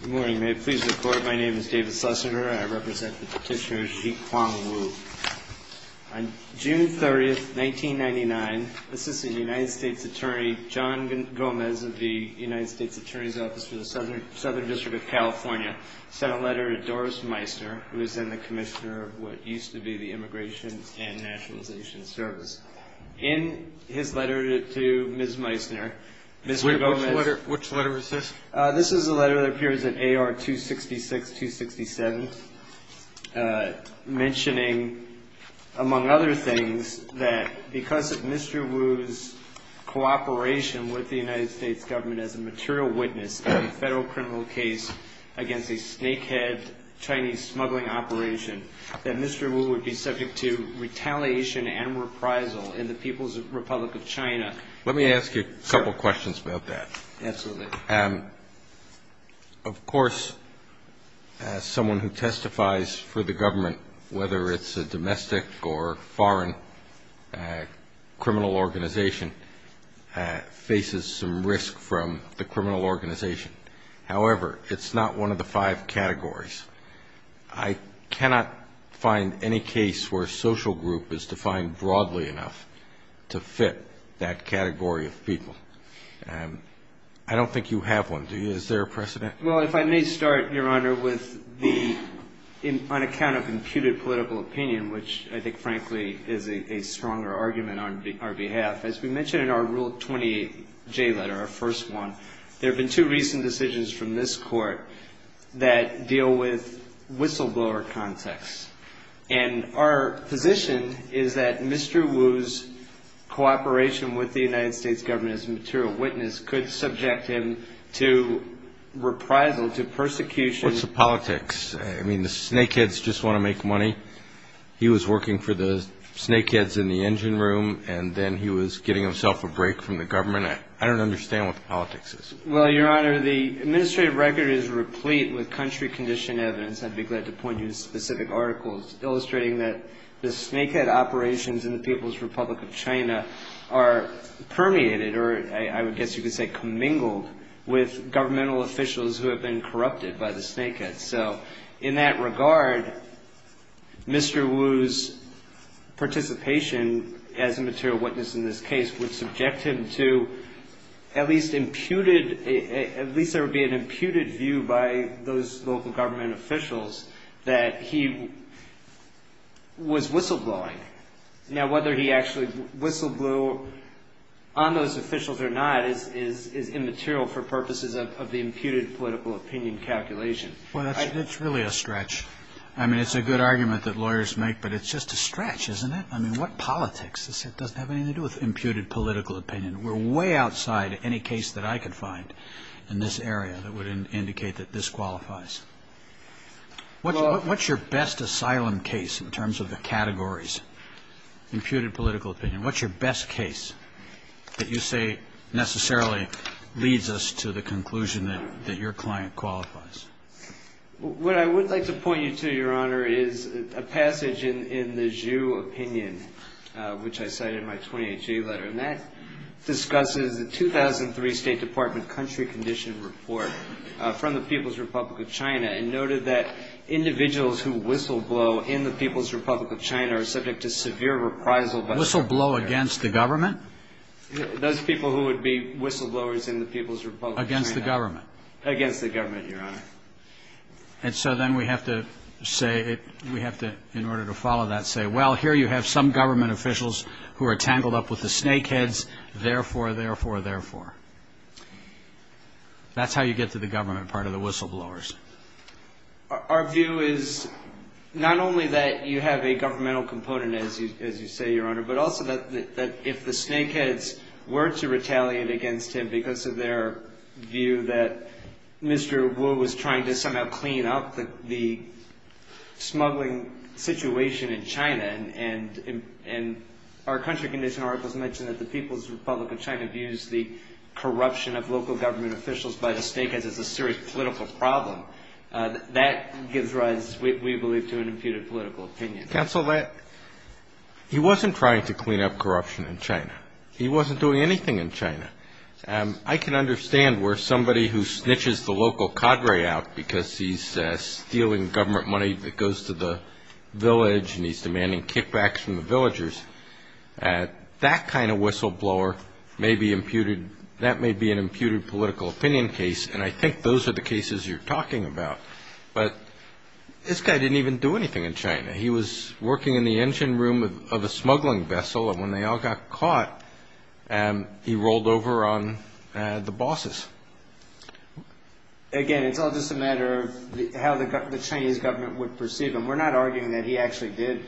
Good morning. May it please the Court, my name is David Sussiner and I represent the petitioner Zhih-Kwang Wu. On June 30, 1999, Assistant United States Attorney John Gomez of the United States Attorney's Office for the Southern District of California sent a letter to Doris Meissner, who is then the Commissioner of what used to be the Immigration and Nationalization Service. In his letter to Ms. Meissner, Mr. Gomez... This is a letter that appears in AR-266, 267, mentioning, among other things, that because of Mr. Wu's cooperation with the United States Government as a material witness in a federal criminal case against a snakehead Chinese smuggling operation, that Mr. Wu would be subject to retaliation and reprisal in the People's Republic of China. Let me ask you a couple of questions about that. Absolutely. Of course, someone who testifies for the government, whether it's a domestic or foreign criminal organization, faces some risk from the criminal organization. However, it's not one of the five categories. I cannot find any case where a social group is defined broadly enough to fit that category of people. I don't think you have one, do you? Is there a precedent? Well, if I may start, Your Honor, with the, on account of imputed political opinion, which I think, frankly, is a stronger argument on our behalf. As we mentioned in our Rule 28J letter, our first one, there have been two recent decisions from this Court that deal with whistleblower context. And our position is that Mr. Wu's cooperation with the United States Government as a material witness could subject him to reprisal, to persecution. What's the politics? I mean, the snakeheads just want to make money. He was working for the snakeheads in the engine room, and then he was getting himself a break from the government. I don't understand what the politics is. Well, Your Honor, the administrative record is replete with country-conditioned evidence. I'd be glad to point you to specific articles illustrating that the snakehead operations in the People's Republic of China are permeated, or I would guess you could say commingled, with governmental officials who have been corrupted by the snakeheads. So in that regard, Mr. Wu's participation as a material witness in this case would subject him to at least imputed, at least there would be an imputed view by those local government officials that he was whistleblowing. Now, whether he actually whistleblew on those officials or not is immaterial for purposes of the imputed political opinion calculation. Well, it's really a stretch. I mean, it's a good argument that lawyers make, but it's just a stretch, isn't it? I mean, what politics? This doesn't have anything to do with imputed political opinion. We're way outside any case that I could find in this area that would indicate that this qualifies. What's your best asylum case in terms of the categories, imputed political opinion? What's your best case that you say necessarily leads us to the conclusion that your client qualifies? What I would like to point you to, Your Honor, is a passage in the Zhu opinion, which I cite in my 28-G letter, and that discusses the 2003 State Department country condition report from the People's Republic of China and noted that individuals who whistleblow in the People's Republic of China are subject to severe reprisal. Whistleblow against the government? Those people who would be whistleblowers in the People's Republic of China. Against the government? Against the government, Your Honor. And so then we have to say, we have to, in order to follow that, say, well, here you have some government officials who are tangled up with the snakeheads, therefore, therefore, therefore. That's how you get to the government part of the whistleblowers. Our view is not only that you have a governmental component, as you say, Your Honor, but also that if the snakeheads were to retaliate against him because of their view that Mr. Wu was trying to somehow clean up the smuggling situation in China, and our country condition articles mention that the People's Republic of China views the corruption of local government officials by the snakeheads as a serious political problem. That gives rise, we believe, to an imputed political opinion. Counsel, he wasn't trying to clean up corruption in China. He wasn't doing anything in China. I can understand where somebody who snitches the local cadre out because he's stealing government money that goes to the village and he's demanding kickbacks from the villagers. That kind of whistleblower may be imputed. That may be an imputed political opinion case, and I think those are the cases you're talking about. But this guy didn't even do anything in China. He was working in the engine room of a smuggling vessel, and when they all got caught, he rolled over on the bosses. Again, it's all just a matter of how the Chinese government would perceive him. We're not arguing that he actually did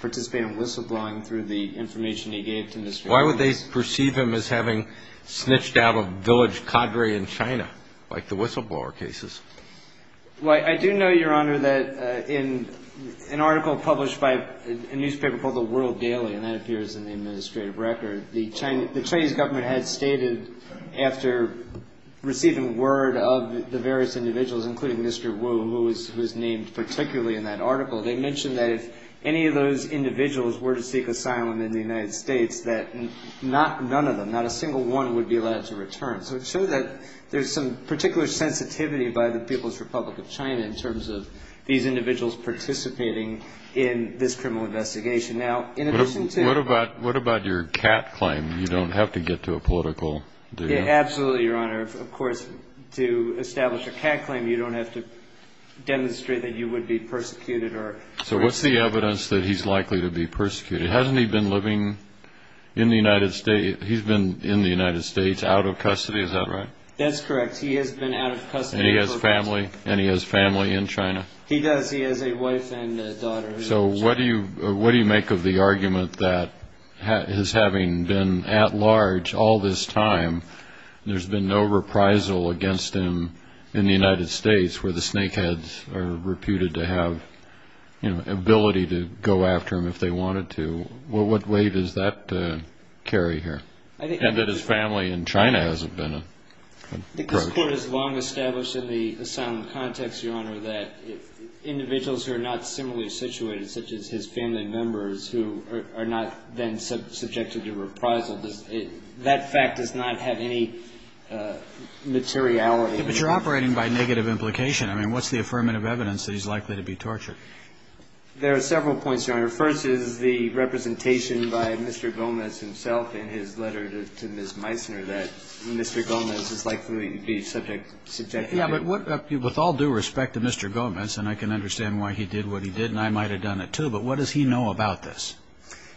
participate in whistleblowing through the information he gave to Mr. Wu. Why would they perceive him as having snitched out a village cadre in China, like the whistleblower cases? Well, I do know, Your Honor, that in an article published by a newspaper called The World Daily, and that appears in the administrative record, the Chinese government had stated, after receiving word of the various individuals, including Mr. Wu, who was named particularly in that article, they mentioned that if any of those individuals were to seek asylum in the United States, that none of them, not a single one, would be allowed to return. So it shows that there's some particular sensitivity by the People's Republic of China in terms of these individuals participating in this criminal investigation. What about your cat claim? You don't have to get to a political... Absolutely, Your Honor. Of course, to establish a cat claim, you don't have to demonstrate that you would be persecuted. So what's the evidence that he's likely to be persecuted? Hasn't he been living in the United States? He's been in the United States, out of custody, is that right? That's correct. He has been out of custody. And he has family in China? He does. He has a wife and a daughter. So what do you make of the argument that his having been at large all this time, there's been no reprisal against him in the United States where the snakeheads are reputed to have ability to go after him if they wanted to? What weight does that carry here? And that his family in China hasn't been approached? I think this Court has long established in the asylum context, Your Honor, that individuals who are not similarly situated, such as his family members who are not then subjected to reprisal, that fact does not have any materiality. But you're operating by negative implication. I mean, what's the affirmative evidence that he's likely to be tortured? There are several points, Your Honor. The first is the representation by Mr. Gomez himself in his letter to Ms. Meissner that Mr. Gomez is likely to be subject to torture. Yeah, but with all due respect to Mr. Gomez, and I can understand why he did what he did, and I might have done it too, but what does he know about this?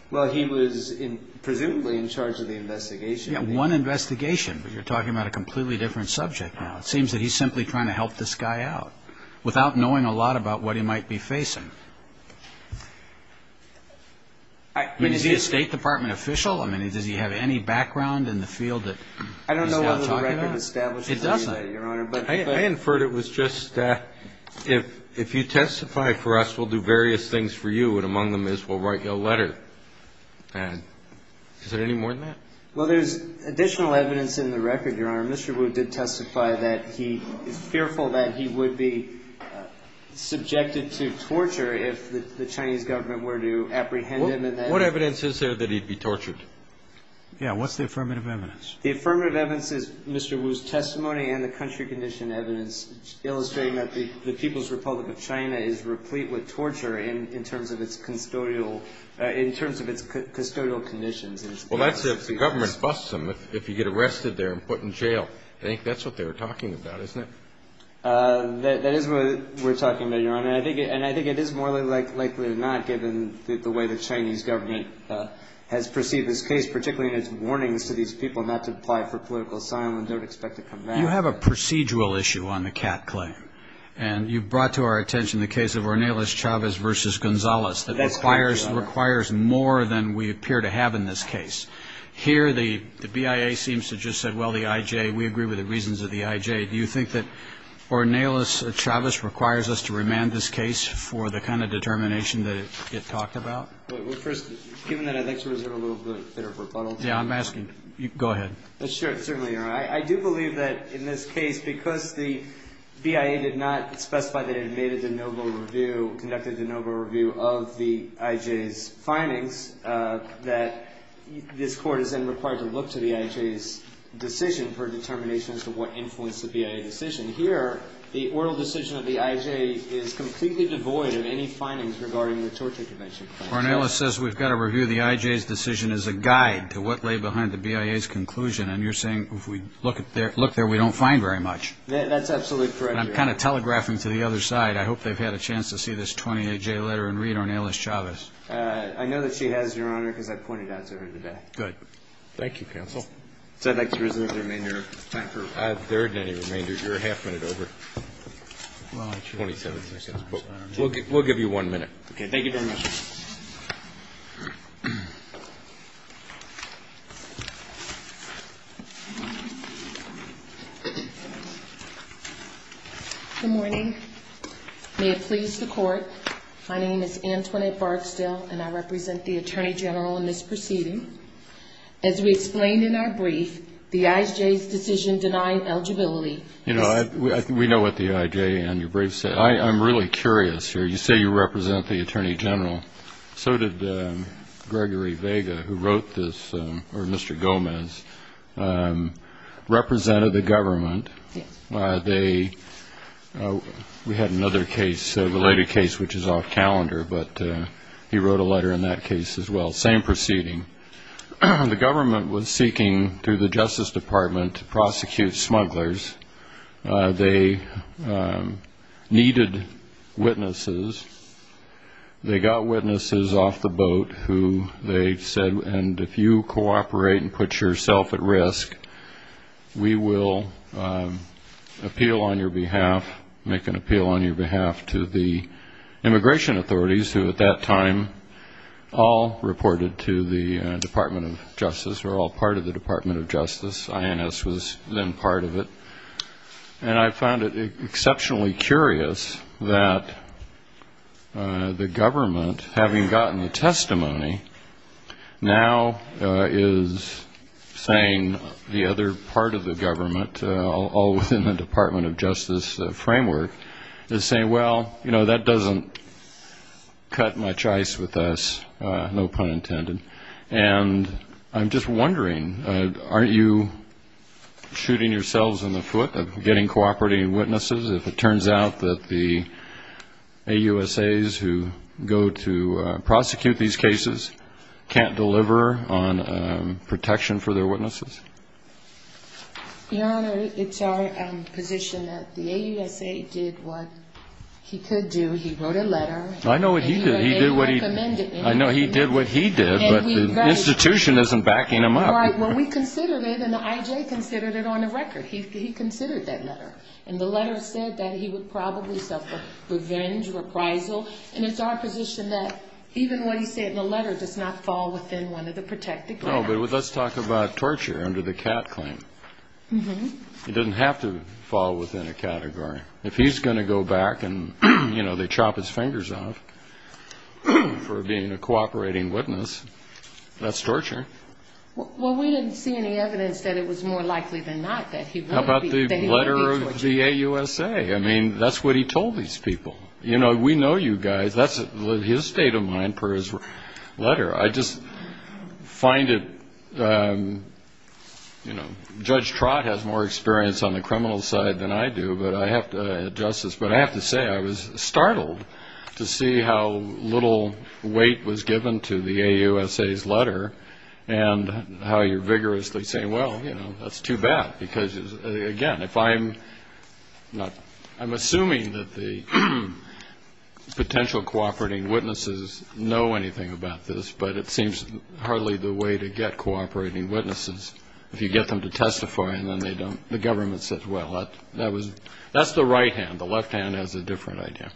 Well, he was presumably in charge of the investigation. Yeah, one investigation, but you're talking about a completely different subject now. It seems that he's simply trying to help this guy out without knowing a lot about what he might be facing. I mean, is he a State Department official? I mean, does he have any background in the field that he's now talking about? I don't know whether the record establishes that, Your Honor. It doesn't. I inferred it was just if you testify for us, we'll do various things for you, and among them is we'll write you a letter. Is there any more than that? Well, there's additional evidence in the record, Your Honor. Mr. Wu did testify that he is fearful that he would be subjected to torture if the Chinese government were to apprehend him. What evidence is there that he'd be tortured? Yeah, what's the affirmative evidence? The affirmative evidence is Mr. Wu's testimony and the country condition evidence illustrating that the People's Republic of China is replete with torture in terms of its custodial conditions. Well, that's if the government busts him, if you get arrested there and put in jail. I think that's what they were talking about, isn't it? That is what we're talking about, Your Honor. And I think it is more likely than not, given the way the Chinese government has perceived this case, particularly in its warnings to these people not to apply for political asylum and don't expect to come back. You have a procedural issue on the Catt claim, and you brought to our attention the case of Ornelas Chavez v. Gonzalez. That's right, Your Honor. It requires more than we appear to have in this case. Here the BIA seems to have just said, well, the IJ, we agree with the reasons of the IJ. Do you think that Ornelas Chavez requires us to remand this case for the kind of determination that it talked about? Well, first, given that I'd like to reserve a little bit of rebuttal. Yeah, I'm asking. Go ahead. Sure, certainly, Your Honor. I do believe that in this case, because the BIA did not specify that it had made a de novo review, conducted a de novo review of the IJ's findings, that this Court is then required to look to the IJ's decision for determination as to what influenced the BIA decision. Here, the oral decision of the IJ is completely devoid of any findings regarding the torture convention. Ornelas says we've got to review the IJ's decision as a guide to what lay behind the BIA's conclusion. And you're saying if we look there, we don't find very much. That's absolutely correct, Your Honor. I'm kind of telegraphing to the other side. I hope they've had a chance to see this 28-J letter and read Ornelas Chavez. I know that she has, Your Honor, because I pointed out to her today. Good. Thank you, counsel. So I'd like to reserve the remainder of time. There isn't any remainder. You're a half minute over. We'll give you one minute. Okay, thank you very much. Good morning. May it please the Court, my name is Antoinette Barksdale, and I represent the Attorney General in this proceeding. As we explained in our brief, the IJ's decision denying eligibility. You know, we know what the IJ in your brief said. I'm really curious here. You say you represent the Attorney General. So did Gregory Vega, who wrote this, or Mr. Gomez, represented the government. We had another case, a related case, which is off calendar, but he wrote a letter in that case as well. Same proceeding. The government was seeking, through the Justice Department, to prosecute smugglers. They needed witnesses. They got witnesses off the boat who they said, and if you cooperate and put yourself at risk, we will appeal on your behalf, make an appeal on your behalf to the immigration authorities, who at that time all reported to the Department of Justice, were all part of the Department of Justice. INS was then part of it. And I found it exceptionally curious that the government, having gotten the testimony, now is saying the other part of the government, all within the Department of Justice framework, is saying, well, you know, that doesn't cut much ice with us, no pun intended. And I'm just wondering, aren't you shooting yourselves in the foot of getting cooperating witnesses if it turns out that the AUSAs who go to prosecute these cases can't deliver on protection for their witnesses? Your Honor, it's our position that the AUSA did what he could do. He wrote a letter. I know what he did. He did what he did. But the institution isn't backing him up. Right. Well, we considered it, and the IJ considered it on the record. He considered that letter. And the letter said that he would probably suffer revenge, reprisal. And it's our position that even what he said in the letter does not fall within one of the protected grounds. No, but let's talk about torture under the CAT claim. It doesn't have to fall within a category. If he's going to go back and, you know, they chop his fingers off for being a cooperating witness, that's torture. Well, we didn't see any evidence that it was more likely than not that he would be tortured. How about the letter of the AUSA? I mean, that's what he told these people. You know, we know you guys. That's his state of mind per his letter. I just find it, you know, Judge Trott has more experience on the criminal side than I do, but I have to address this, but I have to say I was startled to see how little weight was given to the AUSA's letter and how you're vigorously saying, well, you know, that's too bad. Because, again, if I'm assuming that the potential cooperating witnesses know anything about this, but it seems hardly the way to get cooperating witnesses. If you get them to testify and then they don't, the government says, well, that's the right hand. The left hand has a different idea.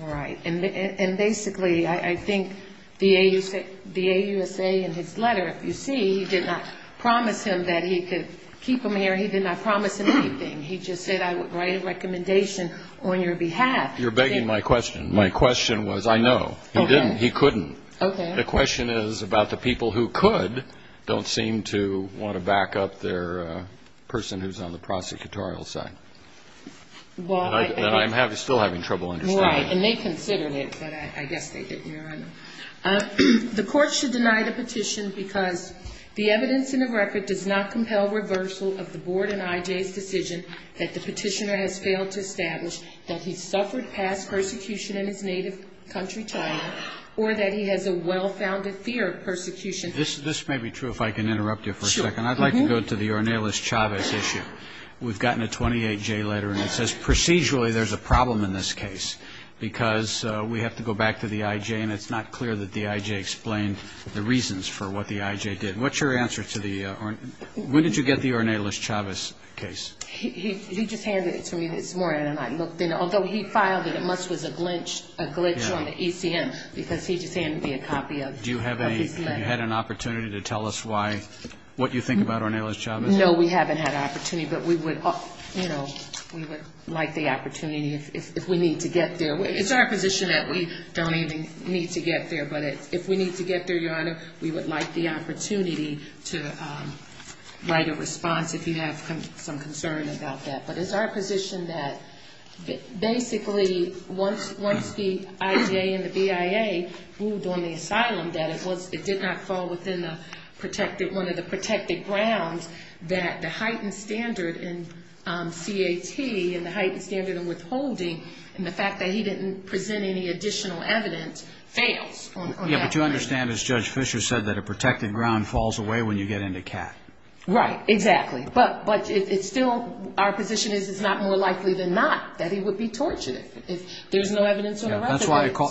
Right. And basically I think the AUSA in his letter, if you see, he did not promise him that he could keep him here. He did not promise him anything. He just said I would write a recommendation on your behalf. You're begging my question. My question was I know. He didn't. He couldn't. Okay. The question is about the people who could, don't seem to want to back up their person who's on the prosecutorial side. That I'm still having trouble understanding. Right. And they considered it, but I guess they didn't. The court should deny the petition because the evidence in the record does not compel reversal of the board and IJ's decision that the petitioner has failed to establish that he suffered past persecution in his native country, or that he has a well-founded fear of persecution. This may be true if I can interrupt you for a second. Sure. I'd like to go to the Ornelas-Chavez issue. We've gotten a 28-J letter and it says procedurally there's a problem in this case because we have to go back to the IJ and it's not clear that the IJ explained the reasons for what the IJ did. What's your answer to the, when did you get the Ornelas-Chavez case? He just handed it to me this morning and I looked in it. Although he filed it, it must was a glitch on the ECM because he just handed me a copy of his letter. Do you have any, have you had an opportunity to tell us why, what you think about Ornelas-Chavez? No, we haven't had an opportunity, but we would, you know, we would like the opportunity if we need to get there. It's our position that we don't even need to get there, but if we need to get there, Your Honor, we would like the opportunity to write a response if you have some concern about that. But it's our position that basically once the IJ and the BIA ruled on the asylum that it was, it did not fall within the protected, one of the protected grounds that the heightened standard in CAT and the heightened standard of withholding and the fact that he didn't present any additional evidence fails. Yeah, but you understand, as Judge Fischer said, that a protected ground falls away when you get into CAT. Right, exactly. But it's still, our position is it's not more likely than not that he would be tortured if there's no evidence of harassment.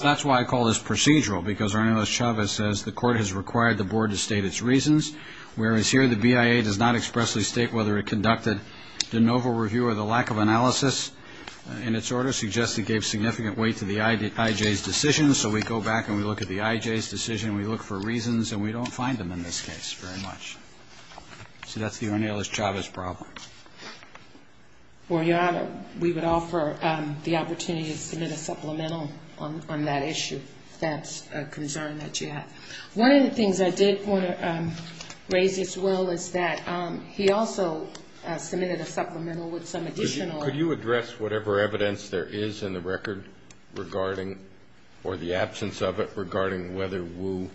That's why I call this procedural because Ornelas-Chavez says the court has required the board to state its reasons, whereas here the BIA does not expressly state whether it conducted de novo review or the lack of analysis in its order suggests it gave significant weight to the IJ's decision. So we go back and we look at the IJ's decision, we look for reasons, and we don't find them in this case very much. So that's the Ornelas-Chavez problem. Well, Your Honor, we would offer the opportunity to submit a supplemental on that issue if that's a concern that you have. One of the things I did want to raise as well is that he also submitted a supplemental with some additional evidence. Can you express whatever evidence there is in the record regarding, or the absence of it regarding whether Wu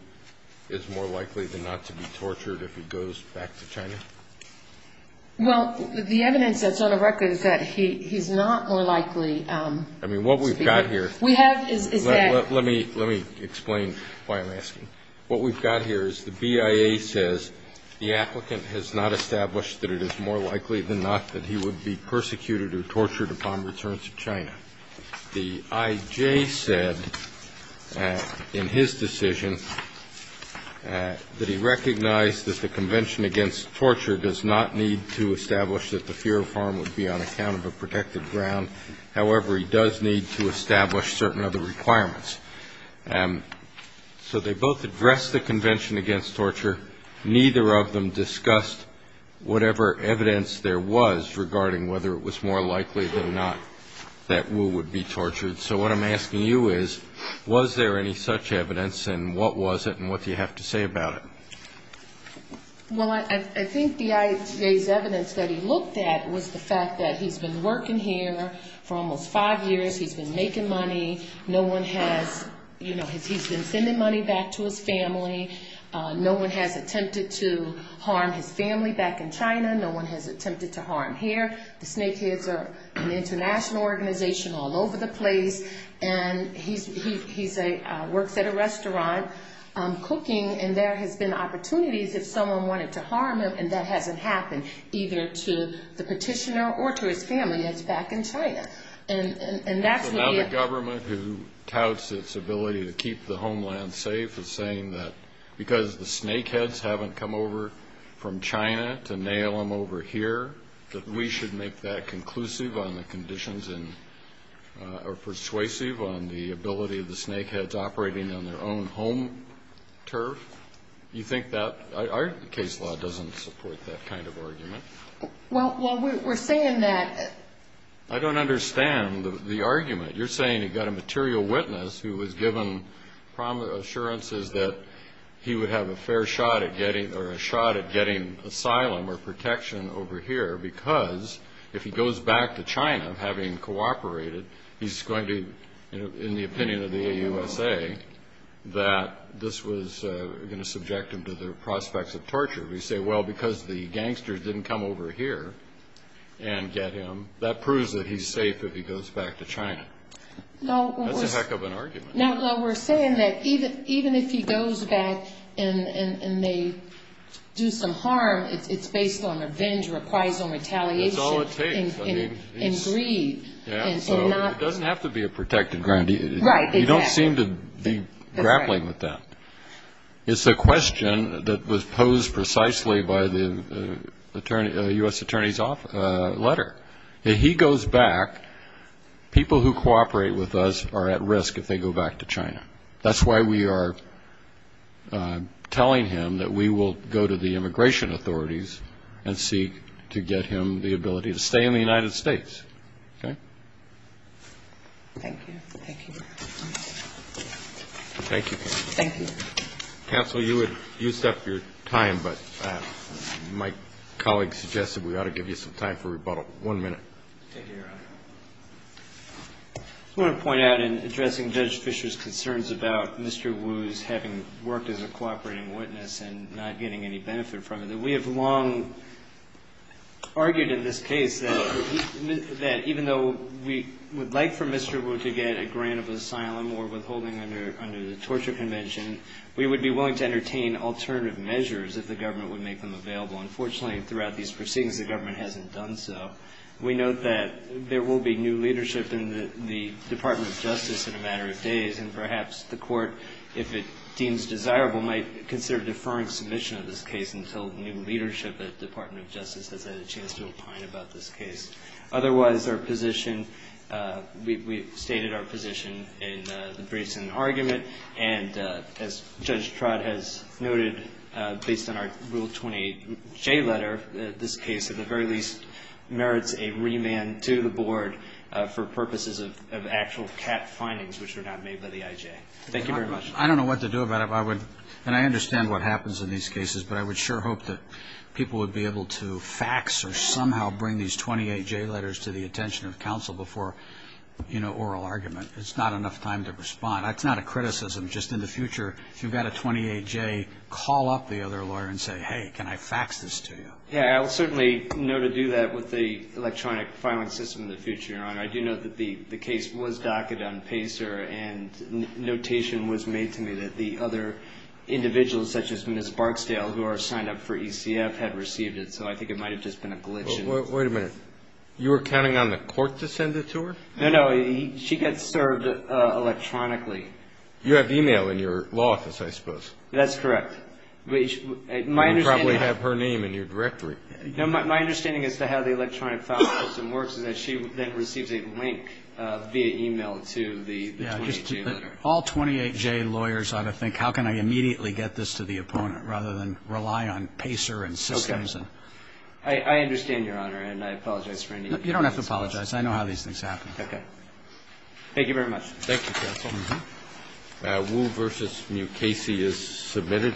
is more likely than not to be tortured if he goes back to China? Well, the evidence that's on the record is that he's not more likely. I mean, what we've got here. We have is that. Let me explain why I'm asking. What we've got here is the BIA says the applicant has not established that it is more likely than not that he would be persecuted or tortured upon return to China. The IJ said in his decision that he recognized that the Convention Against Torture does not need to establish that the fear of harm would be on account of a protected ground. However, he does need to establish certain other requirements. So they both addressed the Convention Against Torture. Neither of them discussed whatever evidence there was regarding whether it was more likely than not that Wu would be tortured. So what I'm asking you is, was there any such evidence, and what was it, and what do you have to say about it? Well, I think the IJ's evidence that he looked at was the fact that he's been working here for almost five years. He's been making money. No one has, you know, he's been sending money back to his family. No one has attempted to harm his family back in China. No one has attempted to harm here. The Snakeheads are an international organization all over the place. And he works at a restaurant cooking, and there has been opportunities if someone wanted to harm him, and that hasn't happened either to the petitioner or to his family that's back in China. So now the government, who touts its ability to keep the homeland safe, is saying that because the Snakeheads haven't come over from China to nail him over here, that we should make that conclusive on the conditions or persuasive on the ability of the Snakeheads operating on their own home turf? You think that? Our case law doesn't support that kind of argument. Well, we're saying that. I don't understand the argument. You're saying he got a material witness who was given assurances that he would have a fair shot at getting asylum or protection over here because if he goes back to China, having cooperated, he's going to, in the opinion of the AUSA, that this was going to subject him to the prospects of torture. We say, well, because the gangsters didn't come over here and get him, that proves that he's safe if he goes back to China. That's a heck of an argument. No, we're saying that even if he goes back and they do some harm, it's based on revenge or acquiescent retaliation. That's all it takes. And greed. It doesn't have to be a protected ground. Right, exactly. You don't seem to be grappling with that. It's a question that was posed precisely by the U.S. Attorney's letter. If he goes back, people who cooperate with us are at risk if they go back to China. That's why we are telling him that we will go to the immigration authorities and seek to get him the ability to stay in the United States. Okay? Thank you. Thank you. Counsel, you would use up your time, but my colleague suggested we ought to give you some time for rebuttal. One minute. Thank you, Your Honor. I just want to point out in addressing Judge Fischer's concerns about Mr. Wu's having worked as a cooperating witness and not getting any benefit from it, that we have long argued in this case that even though we would like for Mr. Wu to go to asylum or withholding under the torture convention, we would be willing to entertain alternative measures if the government would make them available. Unfortunately, throughout these proceedings, the government hasn't done so. We note that there will be new leadership in the Department of Justice in a matter of days, and perhaps the court, if it deems desirable, might consider deferring submission of this case until new leadership at the Department of Justice has had a chance to opine about this case. Otherwise, our position, we've stated our position in the briefs and argument, and as Judge Trott has noted, based on our Rule 28J letter, this case at the very least merits a remand to the board for purposes of actual CAT findings, which were not made by the IJ. Thank you very much. I don't know what to do about it. I would, and I understand what happens in these cases, but I would sure hope that people would be able to fax or somehow bring these 28J letters to the attention of counsel before, you know, oral argument. There's not enough time to respond. It's not a criticism. Just in the future, if you've got a 28J, call up the other lawyer and say, hey, can I fax this to you? Yeah, I will certainly know to do that with the electronic filing system in the future, Your Honor. I do know that the case was docketed on PACER, and notation was made to me that the other individuals, such as Ms. Barksdale, who are signed up for ECF, had received it, so I think it might have just been a glitch. Wait a minute. You were counting on the court to send it to her? No, no. She gets served electronically. You have email in your law office, I suppose. That's correct. You probably have her name in your directory. No, my understanding as to how the electronic filing system works is that she then receives a link via email to the 28J letter. All 28J lawyers ought to think, how can I immediately get this to the opponent, rather than rely on PACER and systems. Okay. I understand, Your Honor, and I apologize for any inconvenience. You don't have to apologize. I know how these things happen. Okay. Thank you very much. Thank you, counsel. Wu v. Mukasey is submitted.